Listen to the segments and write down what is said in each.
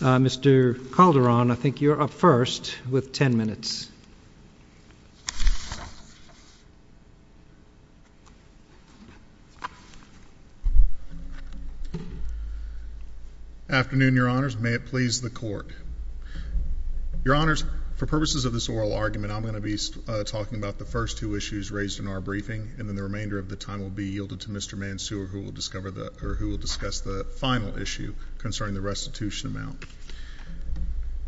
Mr. Calderon, I think you're up first with 10 minutes. Afternoon, Your Honors. May it please the Court. Your Honors, for purposes of this oral argument, I'm going to be talking about the first two issues raised in our briefing, and then the remainder of the time will be yielded to Mr.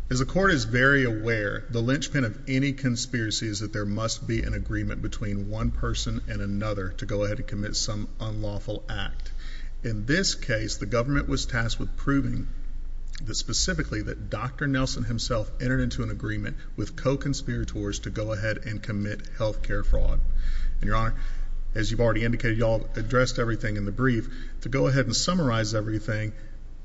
As the Court is very aware, the linchpin of any conspiracy is that there must be an agreement between one person and another to go ahead and commit some unlawful act. In this case, the government was tasked with proving specifically that Dr. Nelson himself entered into an agreement with co-conspirators to go ahead and commit health care fraud. And Your Honor, as you've already indicated, you all addressed everything in the brief. To go ahead and summarize everything,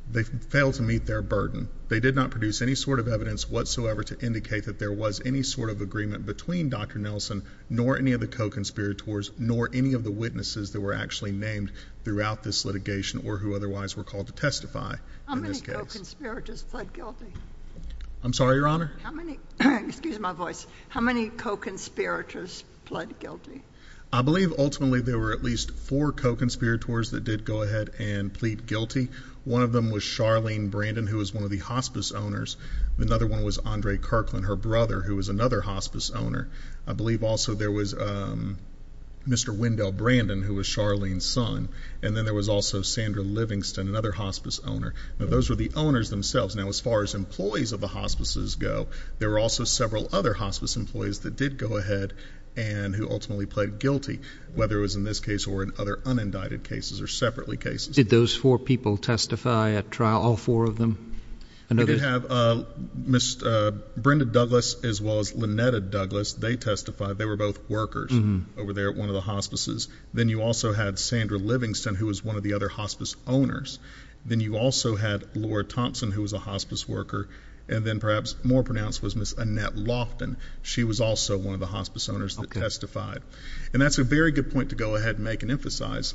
they failed to meet their burden. They did not produce any sort of evidence whatsoever to indicate that there was any sort of agreement between Dr. Nelson, nor any of the co-conspirators, nor any of the witnesses that were actually named throughout this litigation, or who otherwise were called to testify in this case. How many co-conspirators fled guilty? I'm sorry, Your Honor? How many—excuse my voice—how many co-conspirators fled guilty? I believe, ultimately, there were at least four co-conspirators that did go ahead and plead guilty. One of them was Charlene Brandon, who was one of the hospice owners. Another one was Andre Kirkland, her brother, who was another hospice owner. I believe also there was Mr. Wendell Brandon, who was Charlene's son. And then there was also Sandra Livingston, another hospice owner. Those were the owners themselves. Now, as far as employees of the hospices go, there were also several other hospice employees that did go ahead and who ultimately pled guilty, whether it was in this case or in other unindicted cases or separately cases. Did those four people testify at trial, all four of them? I know they— They did have Ms. Brenda Douglas as well as Lynetta Douglas. They testified. They were both workers over there at one of the hospices. Then you also had Sandra Livingston, who was one of the other hospice owners. Then you also had Laura Thompson, who was a hospice worker. And then perhaps more pronounced was Ms. Annette Lofton. She was also one of the hospice owners that testified. And that's a very good point to go ahead and make and emphasize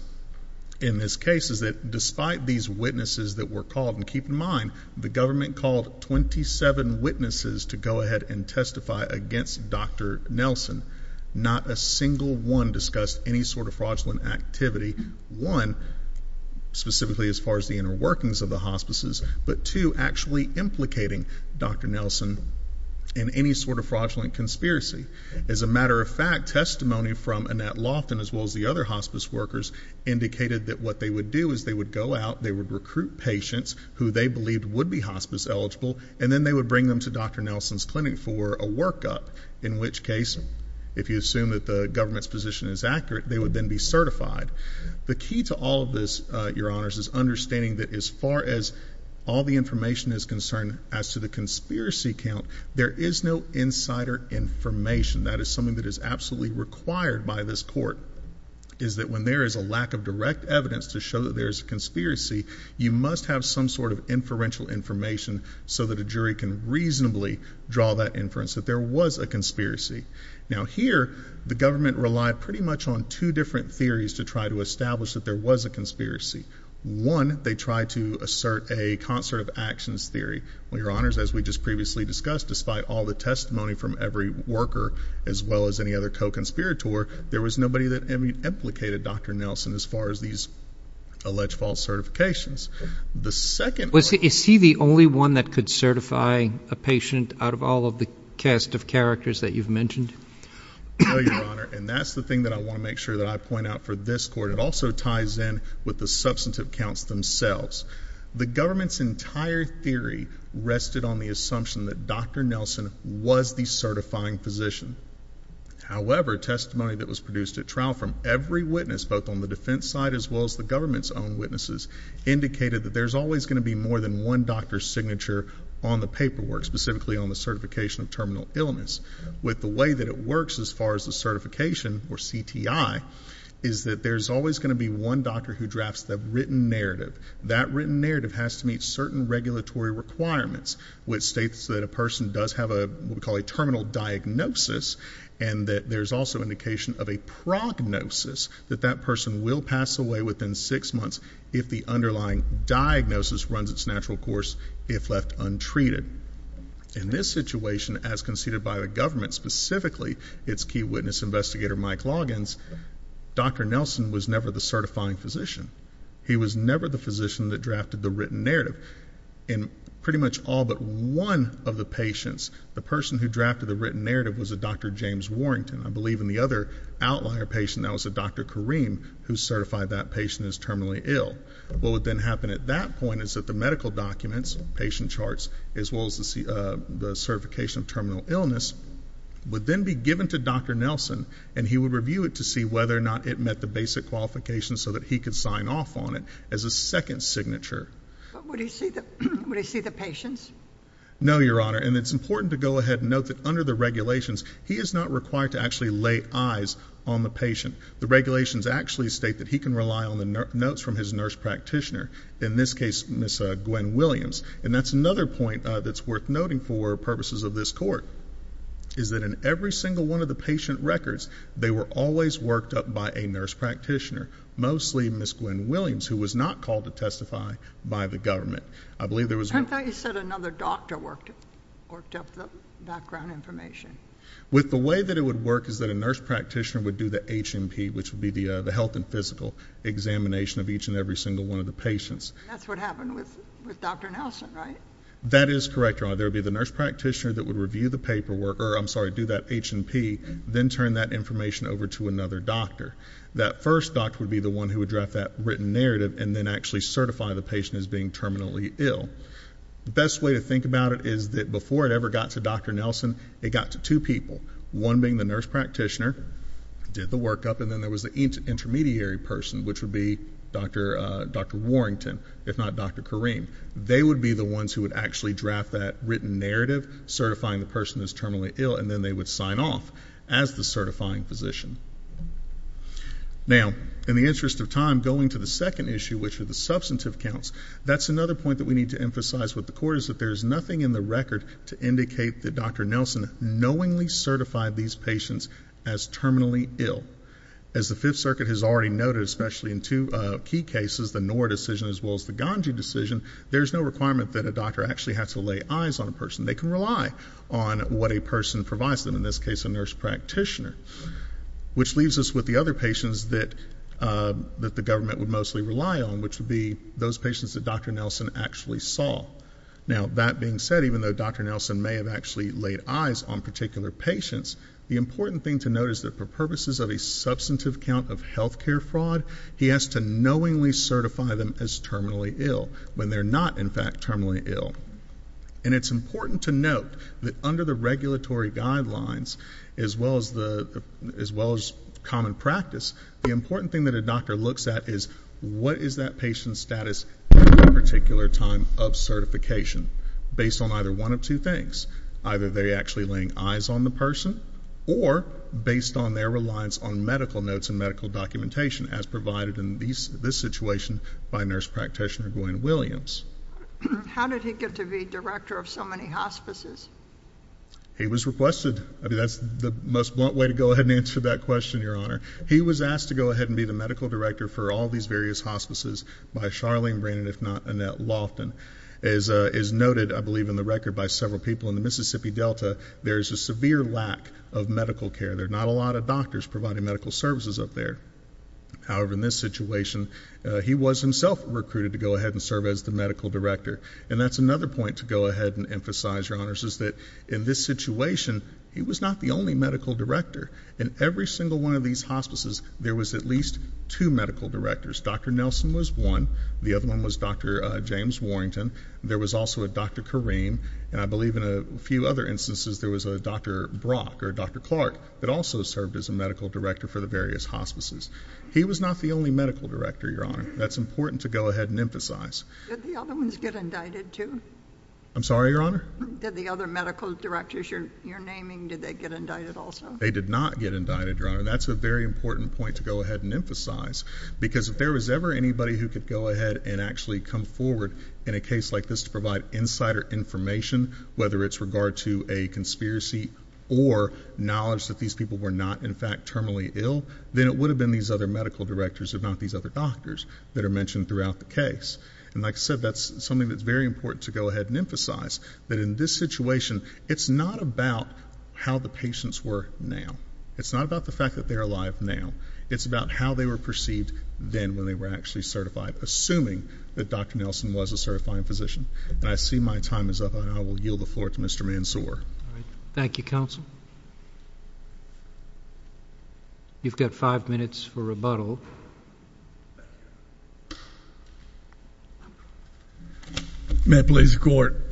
in this case, is that despite these witnesses that were called—and keep in mind, the government called 27 witnesses to go ahead and testify against Dr. Nelson. Not a single one discussed any sort of fraudulent activity, one, specifically as far as the inner workings of the hospices, but two, actually implicating Dr. Nelson in any sort of fraudulent conspiracy. As a matter of fact, testimony from Annette Lofton as well as the other hospice workers indicated that what they would do is they would go out, they would recruit patients who they believed would be hospice eligible, and then they would bring them to Dr. Nelson's clinic for a workup, in which case, if you assume that the government's position is accurate, they would then be certified. The key to all of this, Your Honors, is understanding that as far as all the information is concerned as to the conspiracy count, there is no insider information. That is something that is absolutely required by this court, is that when there is a lack of direct evidence to show that there is a conspiracy, you must have some sort of inferential information so that a jury can reasonably draw that inference that there was a conspiracy. Now here, the government relied pretty much on two different theories to try to establish that there was a conspiracy. One, they tried to assert a concert of actions theory. Well, Your Honors, as we just previously discussed, despite all the testimony from every worker as well as any other co-conspirator, there was nobody that implicated Dr. Nelson as far as these alleged false certifications. The second- Is he the only one that could certify a patient out of all of the cast of characters that you've mentioned? No, Your Honor, and that's the thing that I want to make sure that I point out for this court. It also ties in with the substantive counts themselves. The government's entire theory rested on the assumption that Dr. Nelson was the certifying physician. However, testimony that was produced at trial from every witness, both on the defense side as well as the government's own witnesses, indicated that there's always going to be more than one doctor's signature on the paperwork, specifically on the certification of terminal illness. With the way that it works as far as the certification, or CTI, is that there's always going to be one doctor who drafts the written narrative. That written narrative has to meet certain regulatory requirements, which states that a person does have what we call a terminal diagnosis, and that there's also indication of a prognosis that that person will pass away within six months if the underlying diagnosis runs its natural course if left untreated. In this situation, as conceded by the government, specifically its key witness investigator Mike Loggins, Dr. Nelson was never the certifying physician. He was never the physician that drafted the written narrative. In pretty much all but one of the patients, the person who drafted the written narrative was a Dr. James Warrington. I believe in the other outlier patient, that was a Dr. Kareem, who certified that patient as terminally ill. What would then happen at that point is that the medical documents, patient charts, as well as the certification of terminal illness, would then be given to Dr. Nelson, and he would review it to see whether or not it met the basic qualifications so that he could sign off on it as a second signature. Would he see the patients? No, Your Honor, and it's important to go ahead and note that under the regulations, he is not required to actually lay eyes on the patient. The regulations actually state that he can rely on the notes from his nurse practitioner, in this case, Ms. Gwen Williams, and that's another point that's worth noting for purposes of this court, is that in every single one of the patient records, they were always worked up by a nurse practitioner, mostly Ms. Gwen Williams, who was not called to testify by the government. I believe there was... I thought you said another doctor worked up the background information. With the way that it would work is that a nurse practitioner would do the HNP, which would be the health and physical examination of each and every single one of the patients. That's what happened with Dr. Nelson, right? That is correct, Your Honor. There would be the nurse practitioner that would review the paperwork, or I'm sorry, do that HNP, then turn that information over to another doctor. That first doctor would be the one who would draft that written narrative and then actually certify the patient as being terminally ill. The best way to think about it is that before it ever got to Dr. Nelson, it got to two people, one being the nurse practitioner, did the workup, and then there was the intermediary person, which would be Dr. Warrington, if not Dr. Kareem. They would be the ones who would actually draft that written narrative certifying the person as terminally ill, and then they would sign off as the certifying physician. Now, in the interest of time, going to the second issue, which are the substantive counts, that's another point that we need to emphasize with the court, is that there's nothing in the record to indicate that Dr. Nelson knowingly certified these patients as terminally ill. As the Fifth Circuit has already noted, especially in two key cases, the Noor decision as well as the Ganji decision, there's no requirement that a doctor actually has to lay eyes on a person. They can rely on what a person provides them, in this case a nurse practitioner, which leaves us with the other patients that the government would mostly rely on, which would be those patients that Dr. Nelson actually saw. Now, that being said, even though Dr. Nelson may have actually laid eyes on particular patients, the important thing to note is that for purposes of a substantive count of health care fraud, he has to knowingly certify them as terminally ill, when they're not in fact terminally ill. And it's important to note that under the regulatory guidelines, as well as common practice, the important thing that a doctor looks at is what is that patient's status at that particular time of certification, based on either one of two things. Either they're actually laying eyes on the person, or based on their reliance on medical notes and medical documentation, as provided in this situation by Nurse Practitioner Gwen Williams. How did he get to be director of so many hospices? He was requested. I mean, that's the most blunt way to go ahead and answer that question, Your Honor. He was asked to go ahead and be the medical director for all these various hospices by Charlene Brannon, if not Annette Loftin. As is noted, I believe, in the record by several people in the Mississippi Delta, there is a severe lack of medical care. There are not a lot of doctors providing medical services up there. However, in this situation, he was himself recruited to go ahead and serve as the medical director. And that's another point to go ahead and emphasize, Your Honors, is that in this situation, he was not the only medical director. In every single one of these hospices, there was at least two medical directors. Dr. Nelson was one. The other one was Dr. James Warrington. There was also a Dr. Kareem, and I believe in a few other instances there was a Dr. Brock or Dr. Clark that also served as a medical director for the various hospices. He was not the only medical director, Your Honor. That's important to go ahead and emphasize. Did the other ones get indicted too? I'm sorry, Your Honor? Did the other medical directors you're naming, did they get indicted also? They did not get indicted, Your Honor. That's a very important point to go ahead and emphasize, because if there was ever anybody who could go ahead and actually come forward in a case like this to provide insider information, whether it's regard to a conspiracy or knowledge that these people were not, in fact, terminally ill, then it would have been these other medical directors, if not these other doctors that are mentioned throughout the case. And like I said, that's something that's very important to go ahead and emphasize, that in this situation, it's not about how the patients were now. It's not about the fact that they are alive now. It's about how they were perceived then, when they were actually certified, assuming that Dr. Nelson was a certifying physician. And I see my time is up, and I will yield the floor to Mr. Mansour. Thank you, counsel. You've got five minutes for rebuttal. May I please record?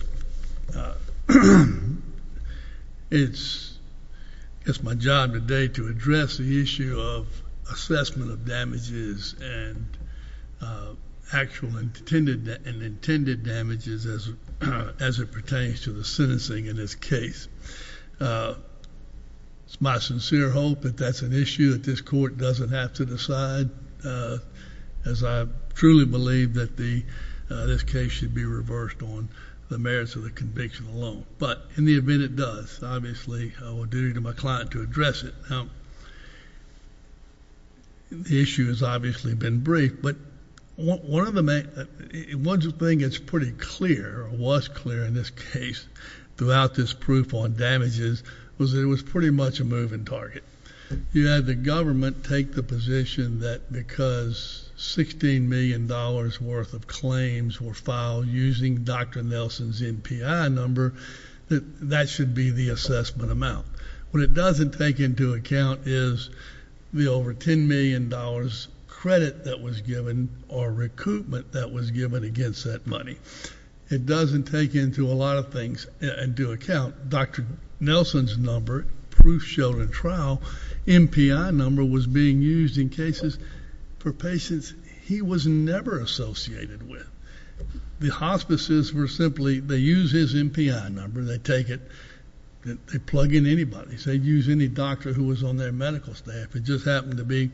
It's my job today to address the issue of assessment of damages and actual and intended damages as it pertains to the sentencing in this case. My sincere hope that that's an issue that this court doesn't have to decide, as I truly believe that this case should be reversed on the merits of the conviction alone. But in the event it does, obviously, I will do to my client to address it. The issue has obviously been briefed, but one thing that's pretty clear, or was clear in this case, throughout this proof on damages, was that it was pretty much a moving target. You had the government take the position that because $16 million worth of claims were filed using Dr. Nelson's NPI number, that that should be the assessment amount. What it doesn't take into account is the over $10 million credit that was given, or recoupment that was given against that money. It doesn't take into a lot of things into account Dr. Nelson's number, proof showed in trial, NPI number was being used in cases for patients he was never associated with. The hospices were simply... they use his NPI number, they take it, they plug in anybody. They use any doctor who was on their medical staff. It just happened to be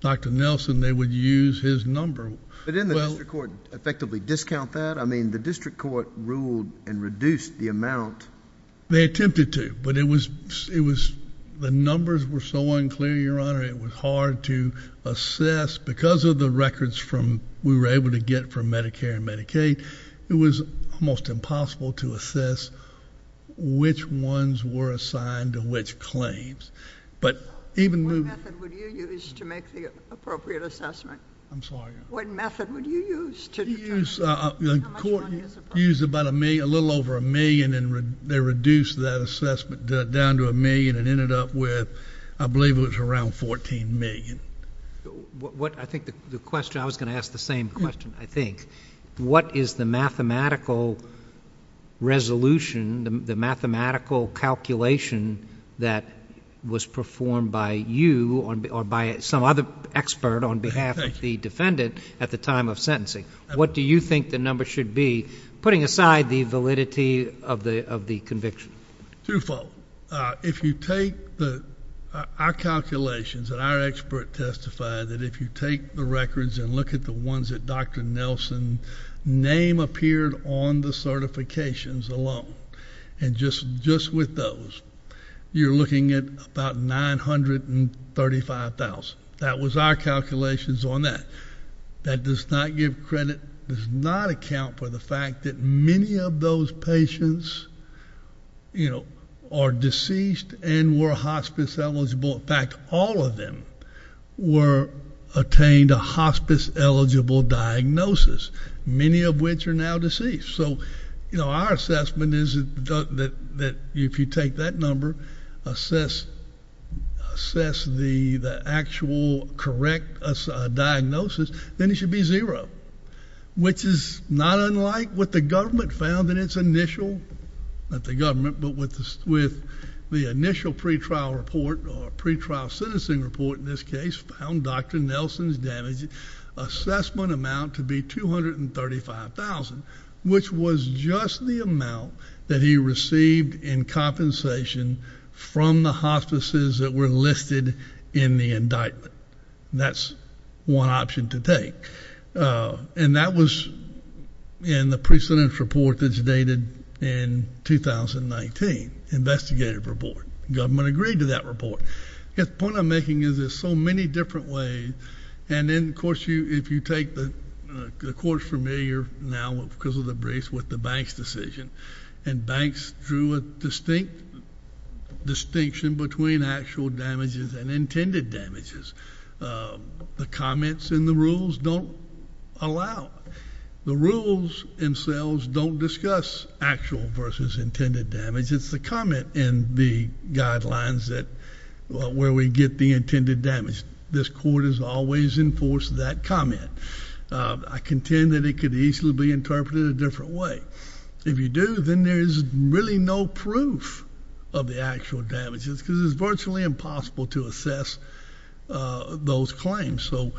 Dr. Nelson, they would use his number. Well... But didn't the district court effectively discount that? I mean, the district court ruled and reduced the amount... They attempted to, but it was... the numbers were so unclear, Your Honor, it was hard to assess because of the records we were able to get from Medicare and Medicaid, it was almost impossible to assess which ones were assigned to which claims. But even... What method would you use to make the appropriate assessment? I'm sorry? What method would you use to determine how much money is appropriate? They used a little over a million and they reduced that assessment down to a million and ended up with, I believe it was around $14 million. I think the question... I was going to ask the same question, I think. What is the mathematical resolution, the mathematical calculation that was performed by you or by some other expert on behalf of the defendant at the time of sentencing? What do you think the number should be, putting aside the validity of the conviction? Twofold. If you take our calculations and our expert testified that if you take the records and look at the ones that Dr. Nelson's name appeared on the certifications alone, and just with those, you're looking at about $935,000. That was our calculations on that. That does not give credit, does not account for the fact that many of those patients are deceased and were hospice eligible. In fact, all of them were attained a hospice eligible diagnosis, many of which are now deceased. Our assessment is that if you take that number, assess the actual correct diagnosis, then it should be zero, which is not unlike what the government found in its initial... not the government, but with the initial pretrial report or pretrial sentencing report in this case. Which was just the amount that he received in compensation from the hospices that were listed in the indictment. That's one option to take. That was in the precedent report that's dated in 2019, investigative report. Government agreed to that report. The point I'm making is there's so many different ways, and then, of course, if you take the... the Court's familiar now, because of the briefs, with the Banks decision. Banks drew a distinct distinction between actual damages and intended damages. The comments in the rules don't allow... the rules themselves don't discuss actual versus intended damage. It's the comment in the guidelines that... where we get the intended damage. This Court has always enforced that comment. I contend that it could easily be interpreted a different way. If you do, then there's really no proof of the actual damages, because it's virtually impossible to assess those claims. So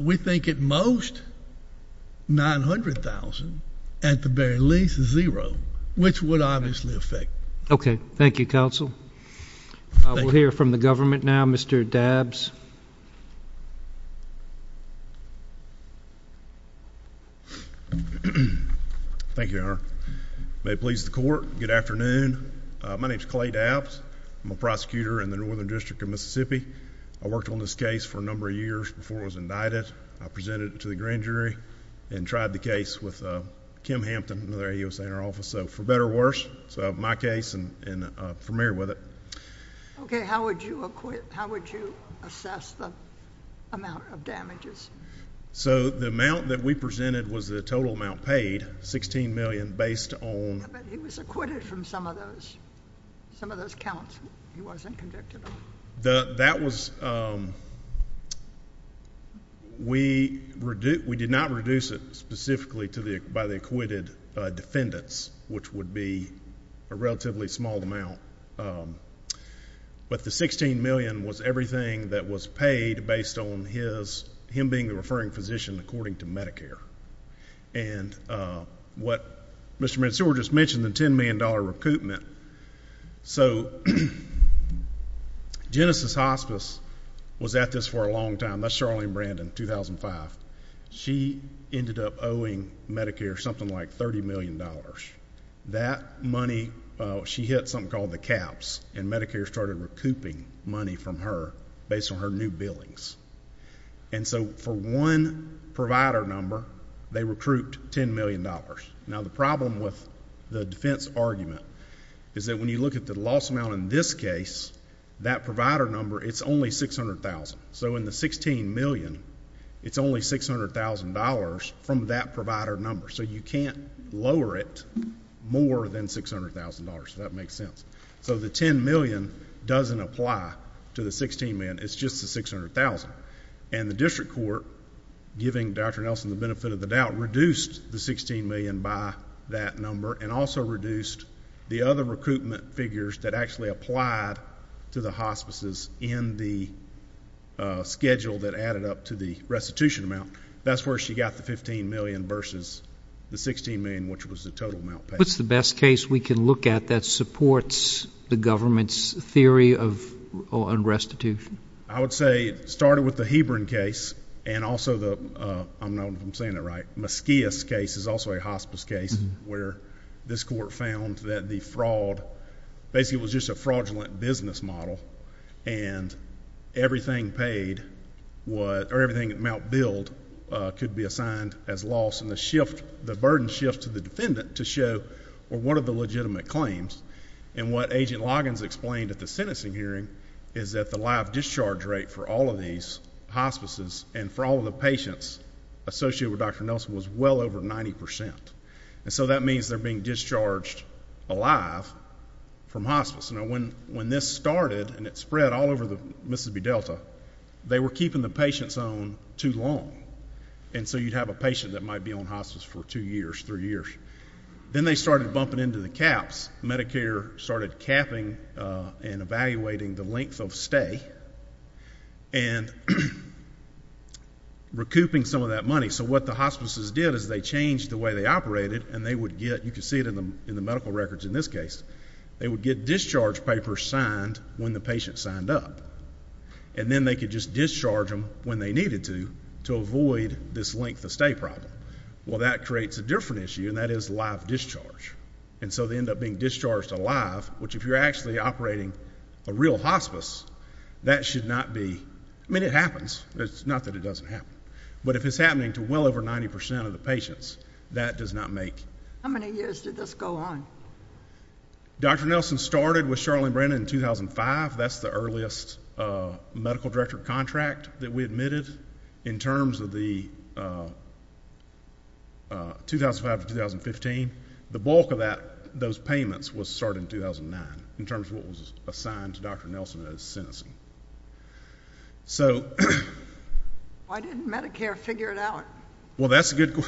we think at most $900,000, at the very least, zero, which would obviously affect... Okay. Thank you, Counsel. We'll hear from the government now. Mr. Dabbs. Thank you, Your Honor. May it please the Court, good afternoon. My name is Clay Dabbs. I'm a prosecutor in the Northern District of Mississippi. I worked on this case for a number of years before I was indicted. I presented it to the grand jury and tried the case with Kim Hampton, another AUSA Interim Officer, for better or worse. So I have my case and I'm familiar with it. Okay. How would you assess the amount of damages? So the amount that we presented was the total amount paid, $16,000,000, based on... But he was acquitted from some of those counts he wasn't convicted of. That was... we did not reduce it specifically by the acquitted defendants, which would be a relatively small amount. But the $16,000,000 was everything that was paid based on his... him being the referring physician, according to Medicare. And what Mr. McStore just mentioned, the $10,000,000 recoupment. So Genesis Hospice was at this for a long time. That's Charlene Brandon, 2005. She ended up owing Medicare something like $30,000,000. That money, she hit something called the caps, and Medicare started recouping money from her based on her new billings. And so for one provider number, they recouped $10,000,000. Now the problem with the defense argument is that when you look at the loss amount in this case, that provider number, it's only $600,000. So in the $16,000,000, it's only $600,000 from that provider number. So you can't lower it more than $600,000, if that makes sense. So the $10,000,000 doesn't apply to the $16,000,000. It's just the $600,000. And the district court, giving Dr. Nelson the benefit of the doubt, reduced the $16,000,000 by that number and also reduced the other recoupment figures that actually applied to the hospices in the schedule that added up to the restitution amount. That's where she got the $15,000,000 versus the $16,000,000, which was the total amount paid. What's the best case we can look at that supports the government's theory of unrestitution? I would say it started with the Hebron case and also the, I don't know if I'm saying it right, Mesquias case is also a hospice case, where this court found that the fraud, basically it was just a fraudulent business model, and everything Mount Build could be assigned as loss. And the burden shifts to the defendant to show, well, what are the legitimate claims? And what Agent Loggins explained at the sentencing hearing is that the live discharge rate for all of these hospices and for all of the patients associated with Dr. Nelson was well over 90%. So that means they're being discharged alive from hospice. When this started and it spread all over the Mississippi Delta, they were keeping the patients on too long, and so you'd have a patient that might be on hospice for two years, three years. Then they started bumping into the caps, Medicare started capping and evaluating the length of stay and recouping some of that money. So what the hospices did is they changed the way they operated, and they would get, you can see it in the medical records in this case, they would get discharge papers signed when the patient signed up. And then they could just discharge them when they needed to, to avoid this length of stay problem. Well, that creates a different issue, and that is live discharge. And so they end up being discharged alive, which if you're actually operating a real hospice, that should not be, I mean, it happens, it's not that it doesn't happen. But if it's happening to well over 90% of the patients, that does not make. How many years did this go on? Dr. Nelson started with Charlene Brennan in 2005. That's the earliest medical director contract that we admitted in terms of the 2005 to 2015. The bulk of that, those payments, was started in 2009 in terms of what was assigned to Dr. Nelson as sentencing. Why didn't Medicare figure it out? Well, that's a good,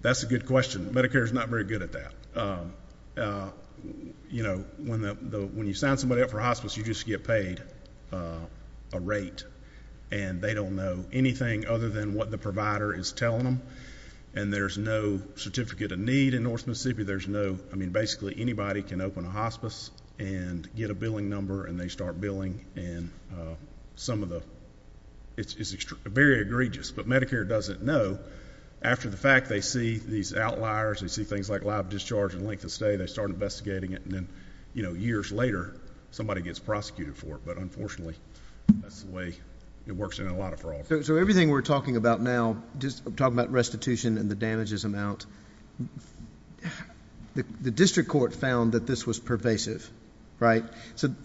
that's a good question. Medicare's not very good at that. You know, when you sign somebody up for hospice, you just get paid a rate, and they don't know anything other than what the provider is telling them, and there's no certificate of need in North Mississippi. There's no, I mean, basically anybody can open a hospice and get a billing number and they start billing, and some of the, it's very egregious, but Medicare doesn't know after the fact, they see these outliers, they see things like live discharge and length of stay, they start investigating it, and then, you know, years later, somebody gets prosecuted for it, but unfortunately, that's the way it works in a lot of fraud. So everything we're talking about now, just talking about restitution and the damages amount, the district court found that this was pervasive, right?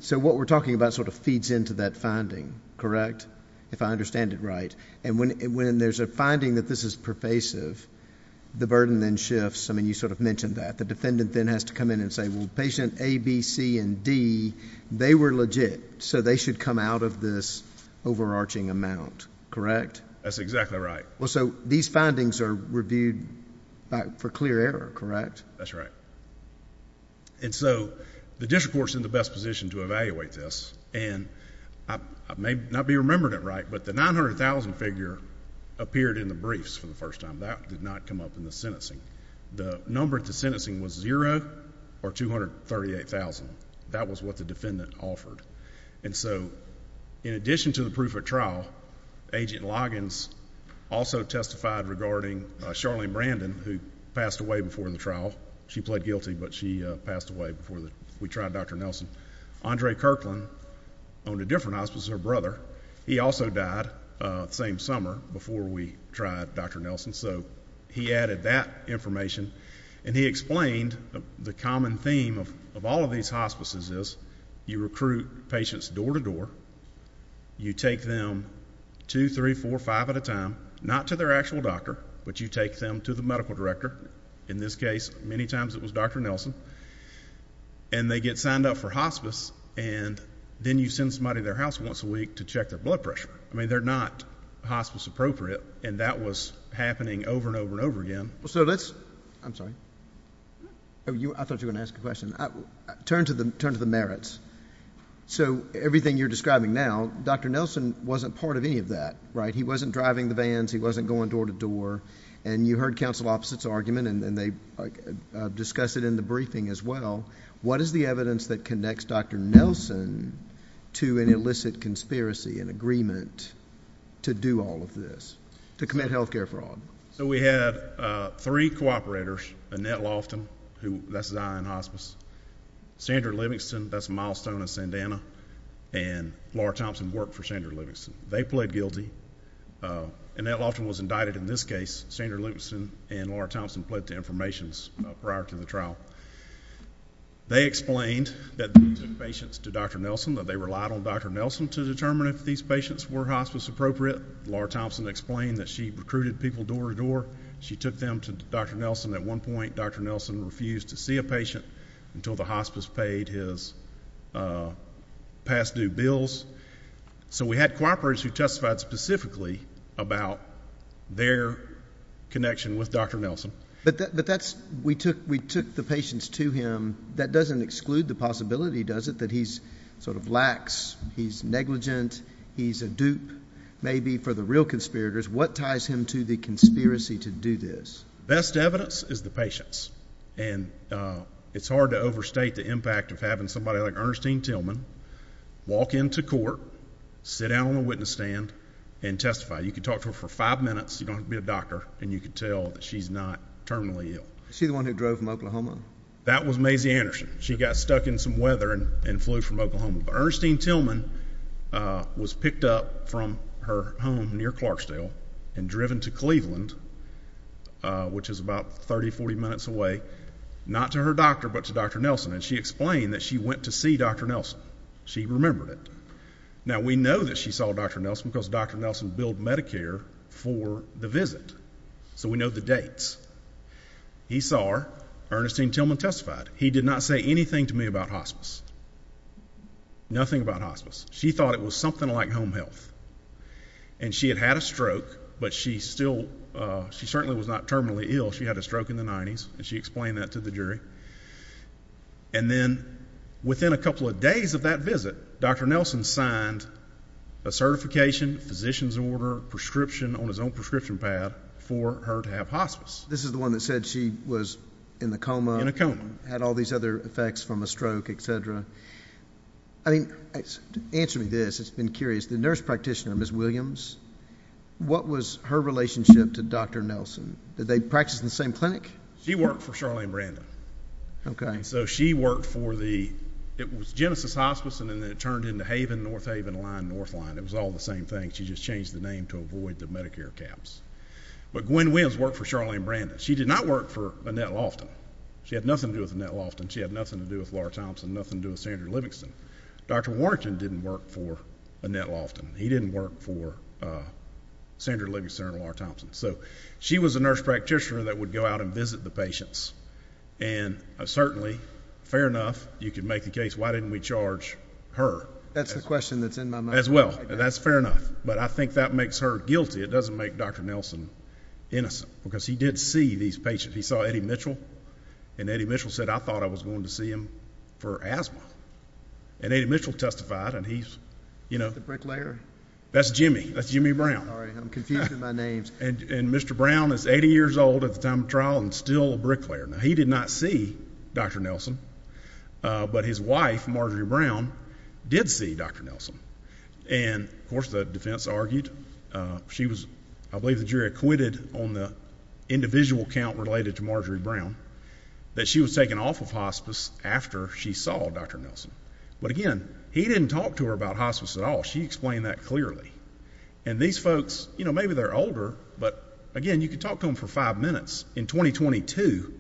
So what we're talking about sort of feeds into that finding, correct, if I understand it right? And when there's a finding that this is pervasive, the burden then shifts, I mean, you sort of mentioned that. The defendant then has to come in and say, well, patient A, B, C, and D, they were legit, so they should come out of this overarching amount, correct? That's exactly right. Well, so these findings are reviewed for clear error, correct? That's right. And so the district court's in the best position to evaluate this, and I may not be remembering it right, but the $900,000 figure appeared in the briefs for the first time. That did not come up in the sentencing. The number at the sentencing was zero or $238,000. That was what the defendant offered. And so in addition to the proof of trial, Agent Loggins also testified regarding Charlene Brandon, who passed away before the trial. She pled guilty, but she passed away before we tried Dr. Nelson. Andre Kirkland owned a different hospice, her brother. He also died the same summer before we tried Dr. Nelson, so he added that information, and he explained the common theme of all of these hospices is you recruit patients door to door, you take them two, three, four, five at a time, not to their actual doctor, but you take them to the medical director, in this case, many times it was Dr. Nelson, and they get signed up for hospice, and then you send somebody to their house once a week to check their blood pressure. I mean, they're not hospice appropriate, and that was happening over and over and over again. Well, so let's... I'm sorry. I thought you were going to ask a question. Turn to the merits. So everything you're describing now, Dr. Nelson wasn't part of any of that, right? He wasn't driving the vans. He wasn't going door to door, and you heard Council Opposite's argument, and they discussed it in the briefing as well. What is the evidence that connects Dr. Nelson to an illicit conspiracy, an agreement to do all of this, to commit health care fraud? So we had three cooperators, Annette Loftin, who... that's Zion Hospice, Sandra Livingston, that's Milestone of Sandana, and Laura Thompson worked for Sandra Livingston. They pled guilty. Annette Loftin was indicted in this case. Sandra Livingston and Laura Thompson pled to informations prior to the trial. They explained that they took patients to Dr. Nelson, that they relied on Dr. Nelson to determine if these patients were hospice appropriate. Laura Thompson explained that she recruited people door to door. She took them to Dr. Nelson. At one point, Dr. Nelson refused to see a patient until the hospice paid his past due bills. So we had cooperators who testified specifically about their connection with Dr. Nelson. But that's... we took the patients to him. That doesn't exclude the possibility, does it, that he's sort of lax, he's negligent, he's a dupe maybe for the real conspirators. What ties him to the conspiracy to do this? Best evidence is the patients, and it's hard to overstate the impact of having somebody like Ernestine Tillman walk into court, sit down on the witness stand, and testify. You can talk to her for five minutes, you don't have to be a doctor, and you can tell that she's not terminally ill. Is she the one who drove from Oklahoma? That was Maisie Anderson. She got stuck in some weather and flew from Oklahoma. But Ernestine Tillman was picked up from her home near Clarksdale and driven to Cleveland, which is about 30, 40 minutes away, not to her doctor, but to Dr. Nelson. And she explained that she went to see Dr. Nelson. She remembered it. Now we know that she saw Dr. Nelson because Dr. Nelson billed Medicare for the visit. So we know the dates. He saw her. Ernestine Tillman testified. He did not say anything to me about hospice. Nothing about hospice. She thought it was something like home health. And she had had a stroke, but she still... she certainly was not terminally ill. She had a stroke in the 90s, and she explained that to the jury. And then within a couple of days of that visit, Dr. Nelson signed a certification, a physician's order, a prescription on his own prescription pad for her to have hospice. This is the one that said she was in a coma, had all these other effects from a stroke, etc. Answer me this, it's been curious. The nurse practitioner, Ms. Williams, what was her relationship to Dr. Nelson? Did they practice in the same clinic? She worked for Charlene Brandon. So she worked for the... it was Genesis Hospice, and then it turned into Haven, North Haven, Lyon, North Lyon. It was all the same thing. She just changed the name to avoid the Medicare caps. But Gwen Williams worked for Charlene Brandon. She did not work for Annette Loftin. She had nothing to do with Annette Loftin. She had nothing to do with Laura Thompson, nothing to do with Sandra Livingston. Dr. Warrington didn't work for Annette Loftin. He didn't work for Sandra Livingston or Laura Thompson. So she was a nurse practitioner that would go out and visit the patients. And certainly, fair enough, you could make the case, why didn't we charge her? That's the question that's in my mind. As well. That's fair enough. But I think that makes her guilty. It doesn't make Dr. Nelson innocent, because he did see these patients. He saw Eddie Mitchell, and Eddie Mitchell said, I thought I was going to see him for asthma. And Eddie Mitchell testified, and he's, you know... The bricklayer? That's Jimmy. That's Jimmy Brown. I'm sorry. I'm confusing my names. And Mr. Brown is 80 years old at the time of trial and still a bricklayer. Now, he did not see Dr. Nelson, but his wife, Marjorie Brown, did see Dr. Nelson. And of course, the defense argued, she was, I believe the jury acquitted on the individual count related to Marjorie Brown, that she was taken off of hospice after she saw Dr. Nelson. But again, he didn't talk to her about hospice at all. She explained that clearly. And these folks, you know, maybe they're older, but again, you can talk to them for five minutes in 2022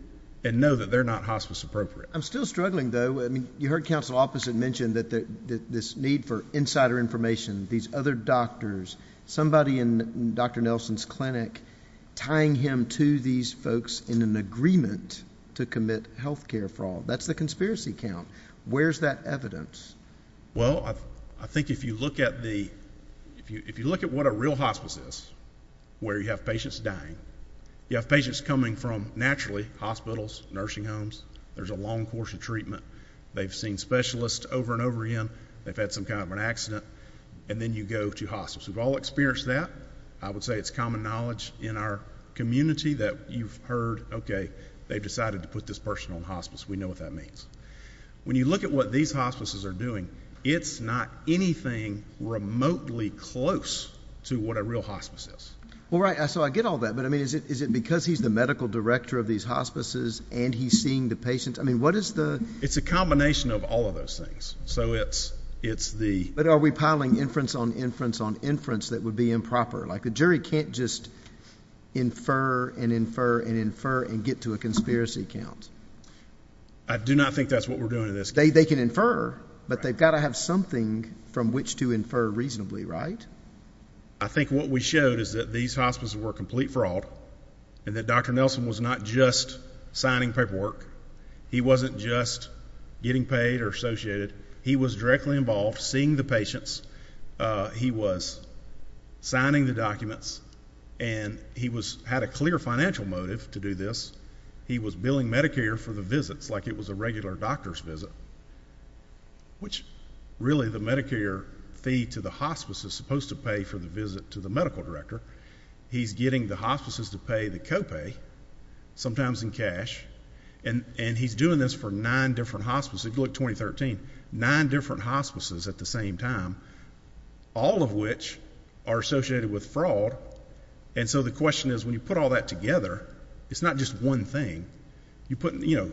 and know that they're not hospice appropriate. I'm still struggling, though. I mean, you heard counsel opposite mention that this need for insider information, these other doctors, somebody in Dr. Nelson's clinic tying him to these folks in an agreement to commit health care fraud. That's the conspiracy count. Where's that evidence? Well, I think if you look at the if you if you look at what a real hospice is, where you have patients dying, you have patients coming from naturally hospitals, nursing homes. There's a long course of treatment. They've seen specialists over and over again. They've had some kind of an accident. And then you go to hospitals. We've all experienced that. I would say it's common knowledge in our community that you've heard, OK, they've decided to put this person on hospice. We know what that means. When you look at what these hospices are doing, it's not anything remotely close to what a real hospice is. All right. So I get all that. But I mean, is it is it because he's the medical director of these hospices and he's seeing the patients? I mean, what is the it's a combination of all of those things. So it's it's the but are we piling inference on inference on inference that would be improper like the jury can't just infer and infer and infer and get to a conspiracy count. I do not think that's what we're doing to this day. They can infer, but they've got to have something from which to infer reasonably right. I think what we showed is that these hospitals were complete fraud and that Dr. Nelson was not just signing paperwork. He wasn't just getting paid or associated. He was directly involved seeing the patients. He was signing the documents and he was had a clear financial motive to do this. He was billing Medicare for the visits like it was a regular doctor's visit, which really the Medicare fee to the hospice is supposed to pay for the visit to the medical director. He's getting the hospices to pay the copay, sometimes in cash, and and he's doing this for nine different hospices, look 2013, nine different hospices at the same time, all of which are associated with fraud. And so the question is when you put all that together, it's not just one thing. You put, you know,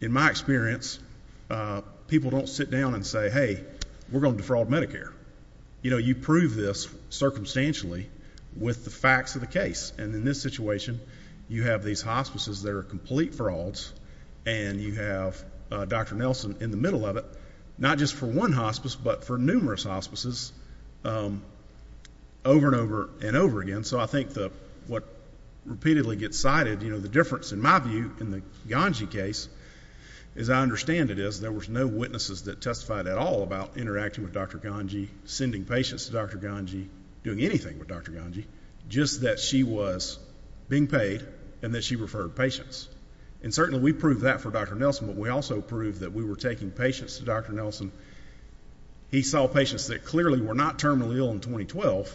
in my experience, people don't sit down and say, hey, we're going to defraud Medicare. You know, you prove this circumstantially with the facts of the case. And in this situation, you have these hospices that are complete frauds and you have Dr. Nelson in the middle of it, not just for one hospice, but for numerous hospices over and over again. So I think that what repeatedly gets cited, you know, the difference in my view in the Ganji case is I understand it is there was no witnesses that testified at all about interacting with Dr. Ganji, sending patients to Dr. Ganji, doing anything with Dr. Ganji, just that she was being paid and that she referred patients. And certainly we proved that for Dr. Nelson, but we also proved that we were taking patients to Dr. Nelson. Dr. Nelson, he saw patients that clearly were not terminally ill in 2012.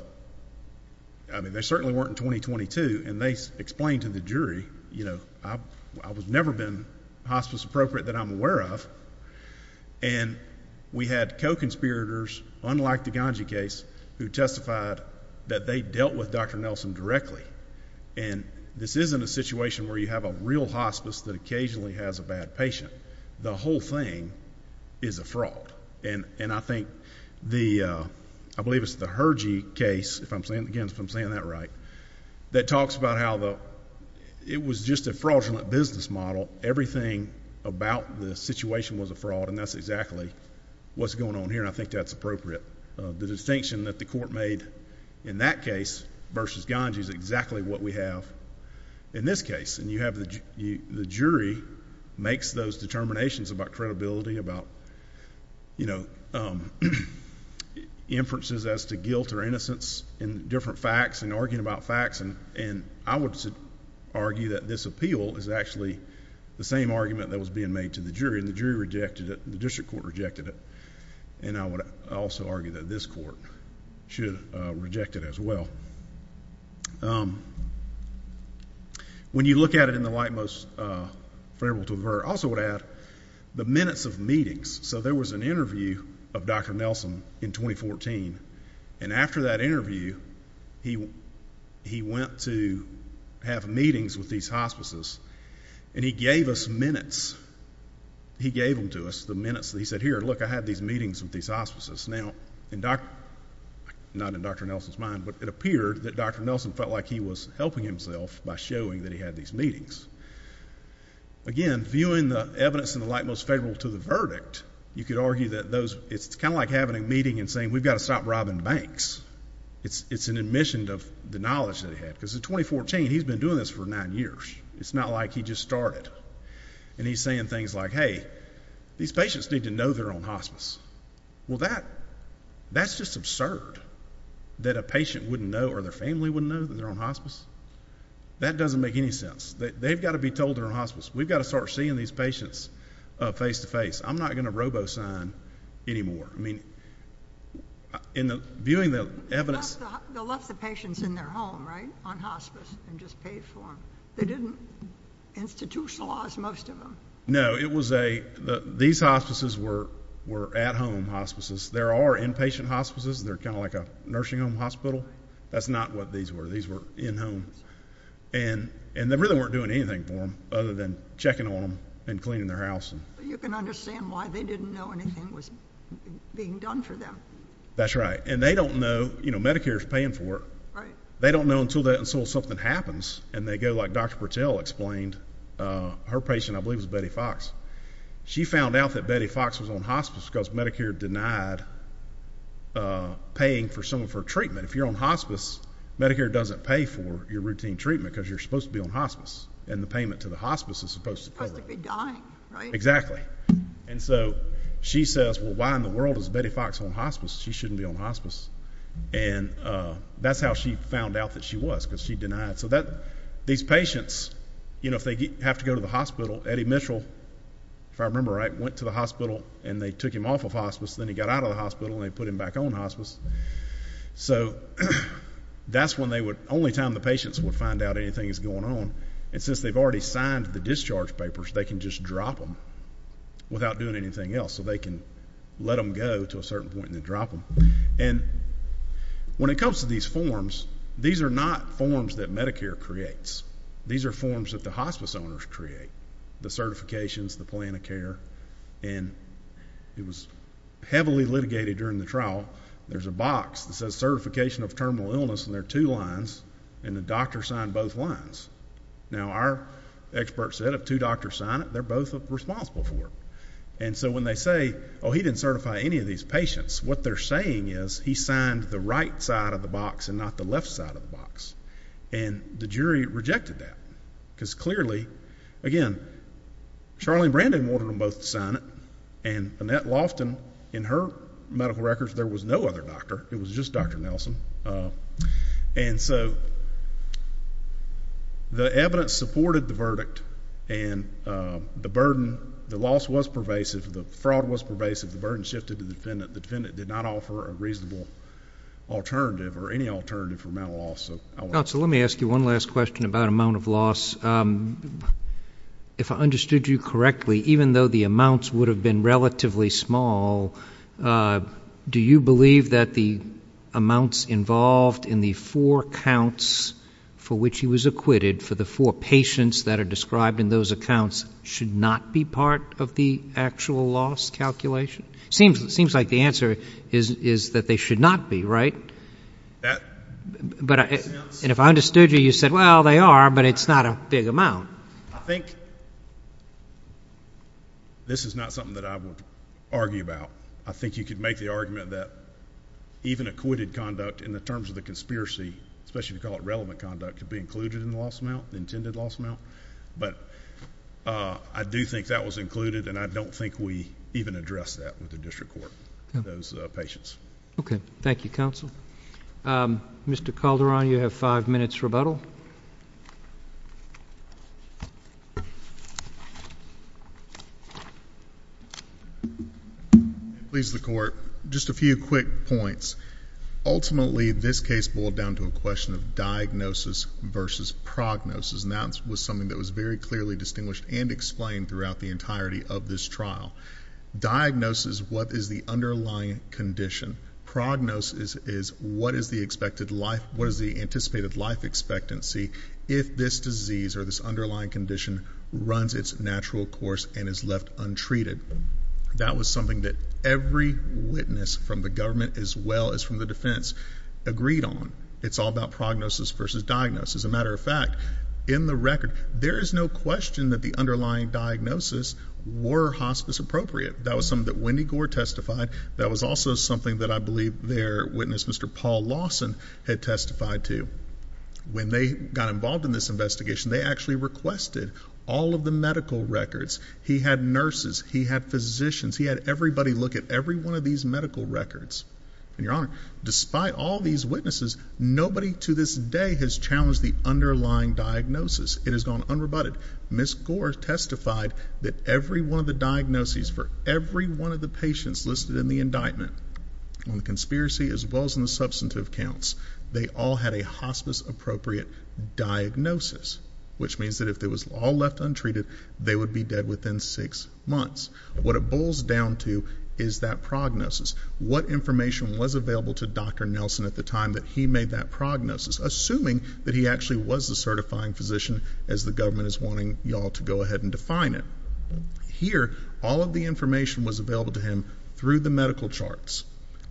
I mean, they certainly weren't in 2022. And they explained to the jury, you know, I was never been hospice appropriate that I'm aware of. And we had co-conspirators, unlike the Ganji case, who testified that they dealt with Dr. Nelson directly. And this isn't a situation where you have a real hospice that occasionally has a bad patient. The whole thing is a fraud. And I think the, I believe it's the Hergy case, if I'm saying, again, if I'm saying that right, that talks about how the, it was just a fraudulent business model. Everything about the situation was a fraud, and that's exactly what's going on here, and I think that's appropriate. The distinction that the court made in that case versus Ganji is exactly what we have in this case. And you have the jury makes those determinations about credibility, about, you know, inferences as to guilt or innocence in different facts and arguing about facts. And I would argue that this appeal is actually the same argument that was being made to the jury, and the jury rejected it, the district court rejected it. And I would also argue that this court should reject it as well. So, when you look at it in the light most favorable to avert, I also would add the minutes of meetings. So, there was an interview of Dr. Nelson in 2014, and after that interview, he went to have meetings with these hospices, and he gave us minutes. He gave them to us, the minutes that he said, here, look, I had these meetings with these hospices. Now, not in Dr. Nelson's mind, but it appeared that Dr. Nelson felt like he was helping himself by showing that he had these meetings. Again, viewing the evidence in the light most favorable to the verdict, you could argue that those, it's kind of like having a meeting and saying, we've got to stop robbing banks. It's an admission of the knowledge that he had, because in 2014, he's been doing this for nine years. It's not like he just started, and he's saying things like, hey, these patients need to know their own hospice. Well, that's just absurd that a patient wouldn't know or their family wouldn't know that they're on hospice. That doesn't make any sense. They've got to be told they're on hospice. We've got to start seeing these patients face-to-face. I'm not going to robo-sign anymore. I mean, in viewing the evidence- They left the patients in their home, right, on hospice, and just paid for them. They didn't institutionalize most of them. No, it was a, these hospices were at-home hospices. There are inpatient hospices. They're kind of like a nursing home hospital. That's not what these were. These were in-home. And they really weren't doing anything for them, other than checking on them and cleaning their house. But you can understand why they didn't know anything was being done for them. That's right. And they don't know, you know, Medicare's paying for it. They don't know until that, until something happens. And they go, like Dr. Patel explained, her patient, I believe, is Betty Fox. She found out that Betty Fox was on hospice because Medicare denied paying for some of her treatment. If you're on hospice, Medicare doesn't pay for your routine treatment, because you're supposed to be on hospice. And the payment to the hospice is supposed to cover it. Supposed to be dying, right? Exactly. And so she says, well, why in the world is Betty Fox on hospice? She shouldn't be on hospice. And that's how she found out that she was, because she denied. These patients, you know, if they have to go to the hospital, Eddie Mitchell, if I remember right, went to the hospital and they took him off of hospice, then he got out of the hospital and they put him back on hospice. So that's when they would, only time the patients would find out anything is going on. And since they've already signed the discharge papers, they can just drop them without doing anything else. So they can let them go to a certain point and then drop them. And when it comes to these forms, these are not forms that Medicare creates. These are forms that the hospice owners create. The certifications, the plan of care, and it was heavily litigated during the trial. There's a box that says certification of terminal illness and there are two lines and the doctor signed both lines. Now our experts said if two doctors sign it, they're both responsible for it. And so when they say, oh, he didn't certify any of these patients, what they're saying is he signed the right side of the box and not the left side of the box. And the jury rejected that because clearly, again, Charlene Brandon wanted them both to sign it. And Annette Loftin, in her medical records, there was no other doctor. It was just Dr. Nelson. And so the evidence supported the verdict and the burden, the loss was pervasive. The fraud was pervasive. The burden shifted to the defendant. The defendant did not offer a reasonable alternative or any alternative for amount of loss. Counsel, let me ask you one last question about amount of loss. If I understood you correctly, even though the amounts would have been relatively small, for example, do you believe that the amounts involved in the four counts for which he was acquitted for the four patients that are described in those accounts should not be part of the actual loss calculation? Seems like the answer is that they should not be, right? And if I understood you, you said, well, they are, but it's not a big amount. I think this is not something that I would argue about. I think you could make the argument that even acquitted conduct in the terms of the conspiracy, especially if you call it relevant conduct, could be included in the loss amount, the intended loss amount, but I do think that was included and I don't think we even address that with the district court, those patients. Okay. Thank you, counsel. Mr. Calderon, you have five minutes rebuttal. Please, the court. Just a few quick points. Ultimately, this case boiled down to a question of diagnosis versus prognosis and that was something that was very clearly distinguished and explained throughout the entirety of this trial. Diagnosis, what is the underlying condition? Prognosis is what is the expected life, what is the anticipated life expectancy if this disease or this underlying condition runs its natural course and is left untreated? That was something that every witness from the government as well as from the defense agreed on. It's all about prognosis versus diagnosis. As a matter of fact, in the record, there is no question that the underlying diagnosis were hospice appropriate. That was something that Wendy Gore testified. That was also something that I believe their witness, Mr. Paul Lawson, had testified to. When they got involved in this investigation, they actually requested all of the medical records. He had nurses. He had physicians. He had everybody look at every one of these medical records. And your honor, despite all these witnesses, nobody to this day has challenged the underlying diagnosis. It has gone unrebutted. Ms. Gore testified that every one of the diagnoses for every one of the patients listed in the indictment on the conspiracy as well as on the substantive counts, they all had a hospice appropriate diagnosis, which means that if they was all left untreated, they would be dead within six months. What it boils down to is that prognosis. What information was available to Dr. Nelson at the time that he made that prognosis, assuming that he actually was a certifying physician, as the government is wanting y'all to go ahead and define it. Here, all of the information was available to him through the medical charts.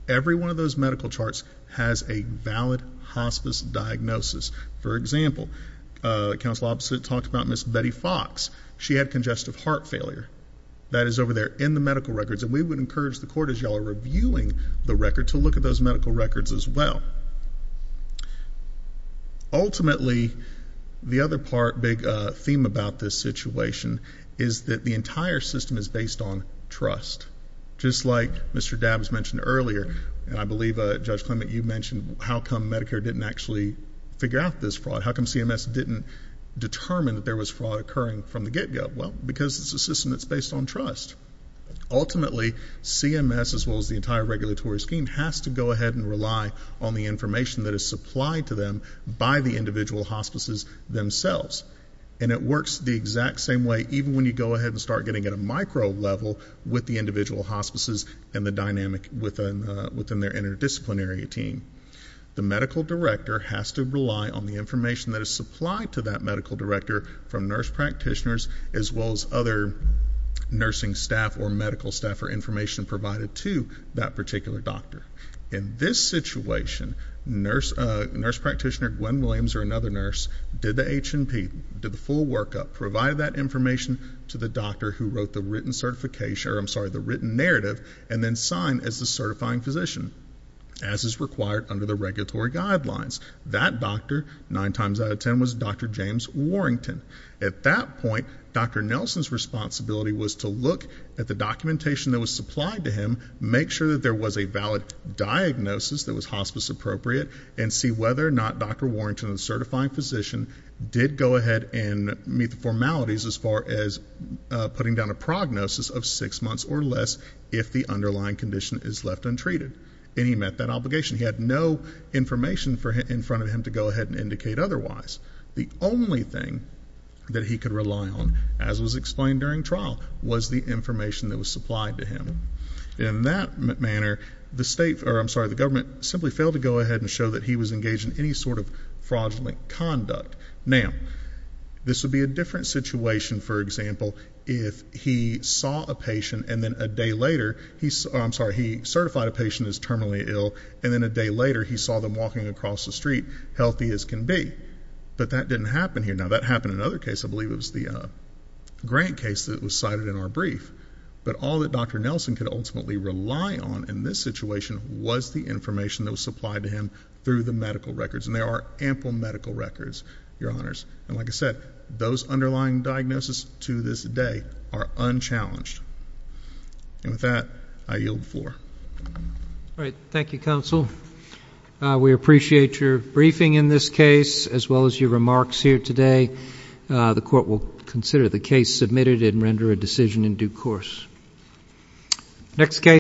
Every one of those medical charts has a valid hospice diagnosis. For example, counsel opposite talked about Ms. Betty Fox. She had congestive heart failure. That is over there in the medical records. And we would encourage the court, as y'all are reviewing the record, to look at those medical records as well. Ultimately, the other big theme about this situation is that the entire system is based on trust. Just like Mr. Dabbs mentioned earlier, and I believe Judge Clement, you mentioned how come Medicare didn't actually figure out this fraud. How come CMS didn't determine that there was fraud occurring from the get-go? Well, because it's a system that's based on trust. Ultimately, CMS, as well as the entire regulatory scheme, has to go ahead and rely on the information that is supplied to them by the individual hospices themselves. And it works the exact same way, even when you go ahead and start getting at a micro level with the individual hospices and the dynamic within their interdisciplinary team. The medical director has to rely on the information that is supplied to that medical director from nurse practitioners, as well as other nursing staff or medical staff, or information provided to that particular doctor. In this situation, nurse practitioner Gwen Williams, or another nurse, did the H&P, did the full workup, provided that information to the doctor who wrote the written narrative, and then signed as the certifying physician, as is required under the regulatory guidelines. That doctor, nine times out of ten, was Dr. James Warrington. At that point, Dr. Nelson's responsibility was to look at the documentation that was supplied to him, make sure that there was a valid diagnosis that was hospice appropriate, and see whether or not Dr. Warrington, the certifying physician, did go ahead and meet the formalities as far as putting down a prognosis of six months or less if the underlying condition is left untreated. And he met that obligation. He had no information in front of him to go ahead and indicate otherwise. The only thing that he could rely on, as was explained during trial, was the information that was supplied to him. In that manner, the state, or I'm sorry, the government, simply failed to go ahead and show that he was engaged in any sort of fraudulent conduct. Now, this would be a different situation, for example, if he saw a patient and then a day later, I'm sorry, he certified a patient as terminally ill, and then a day later he saw them walking across the street, healthy as can be. But that didn't happen here. Now, that happened in another case. I believe it was the Grant case that was cited in our brief. But all that Dr. Nelson could ultimately rely on in this situation was the information that was supplied to him through the medical records, and there are ample medical records, Your Honors. And like I said, those underlying diagnoses to this day are unchallenged. And with that, I yield the floor. All right. Thank you, Counsel. We appreciate your briefing in this case, as well as your remarks here today. The Court will consider the case submitted and render a decision in due course. Next case.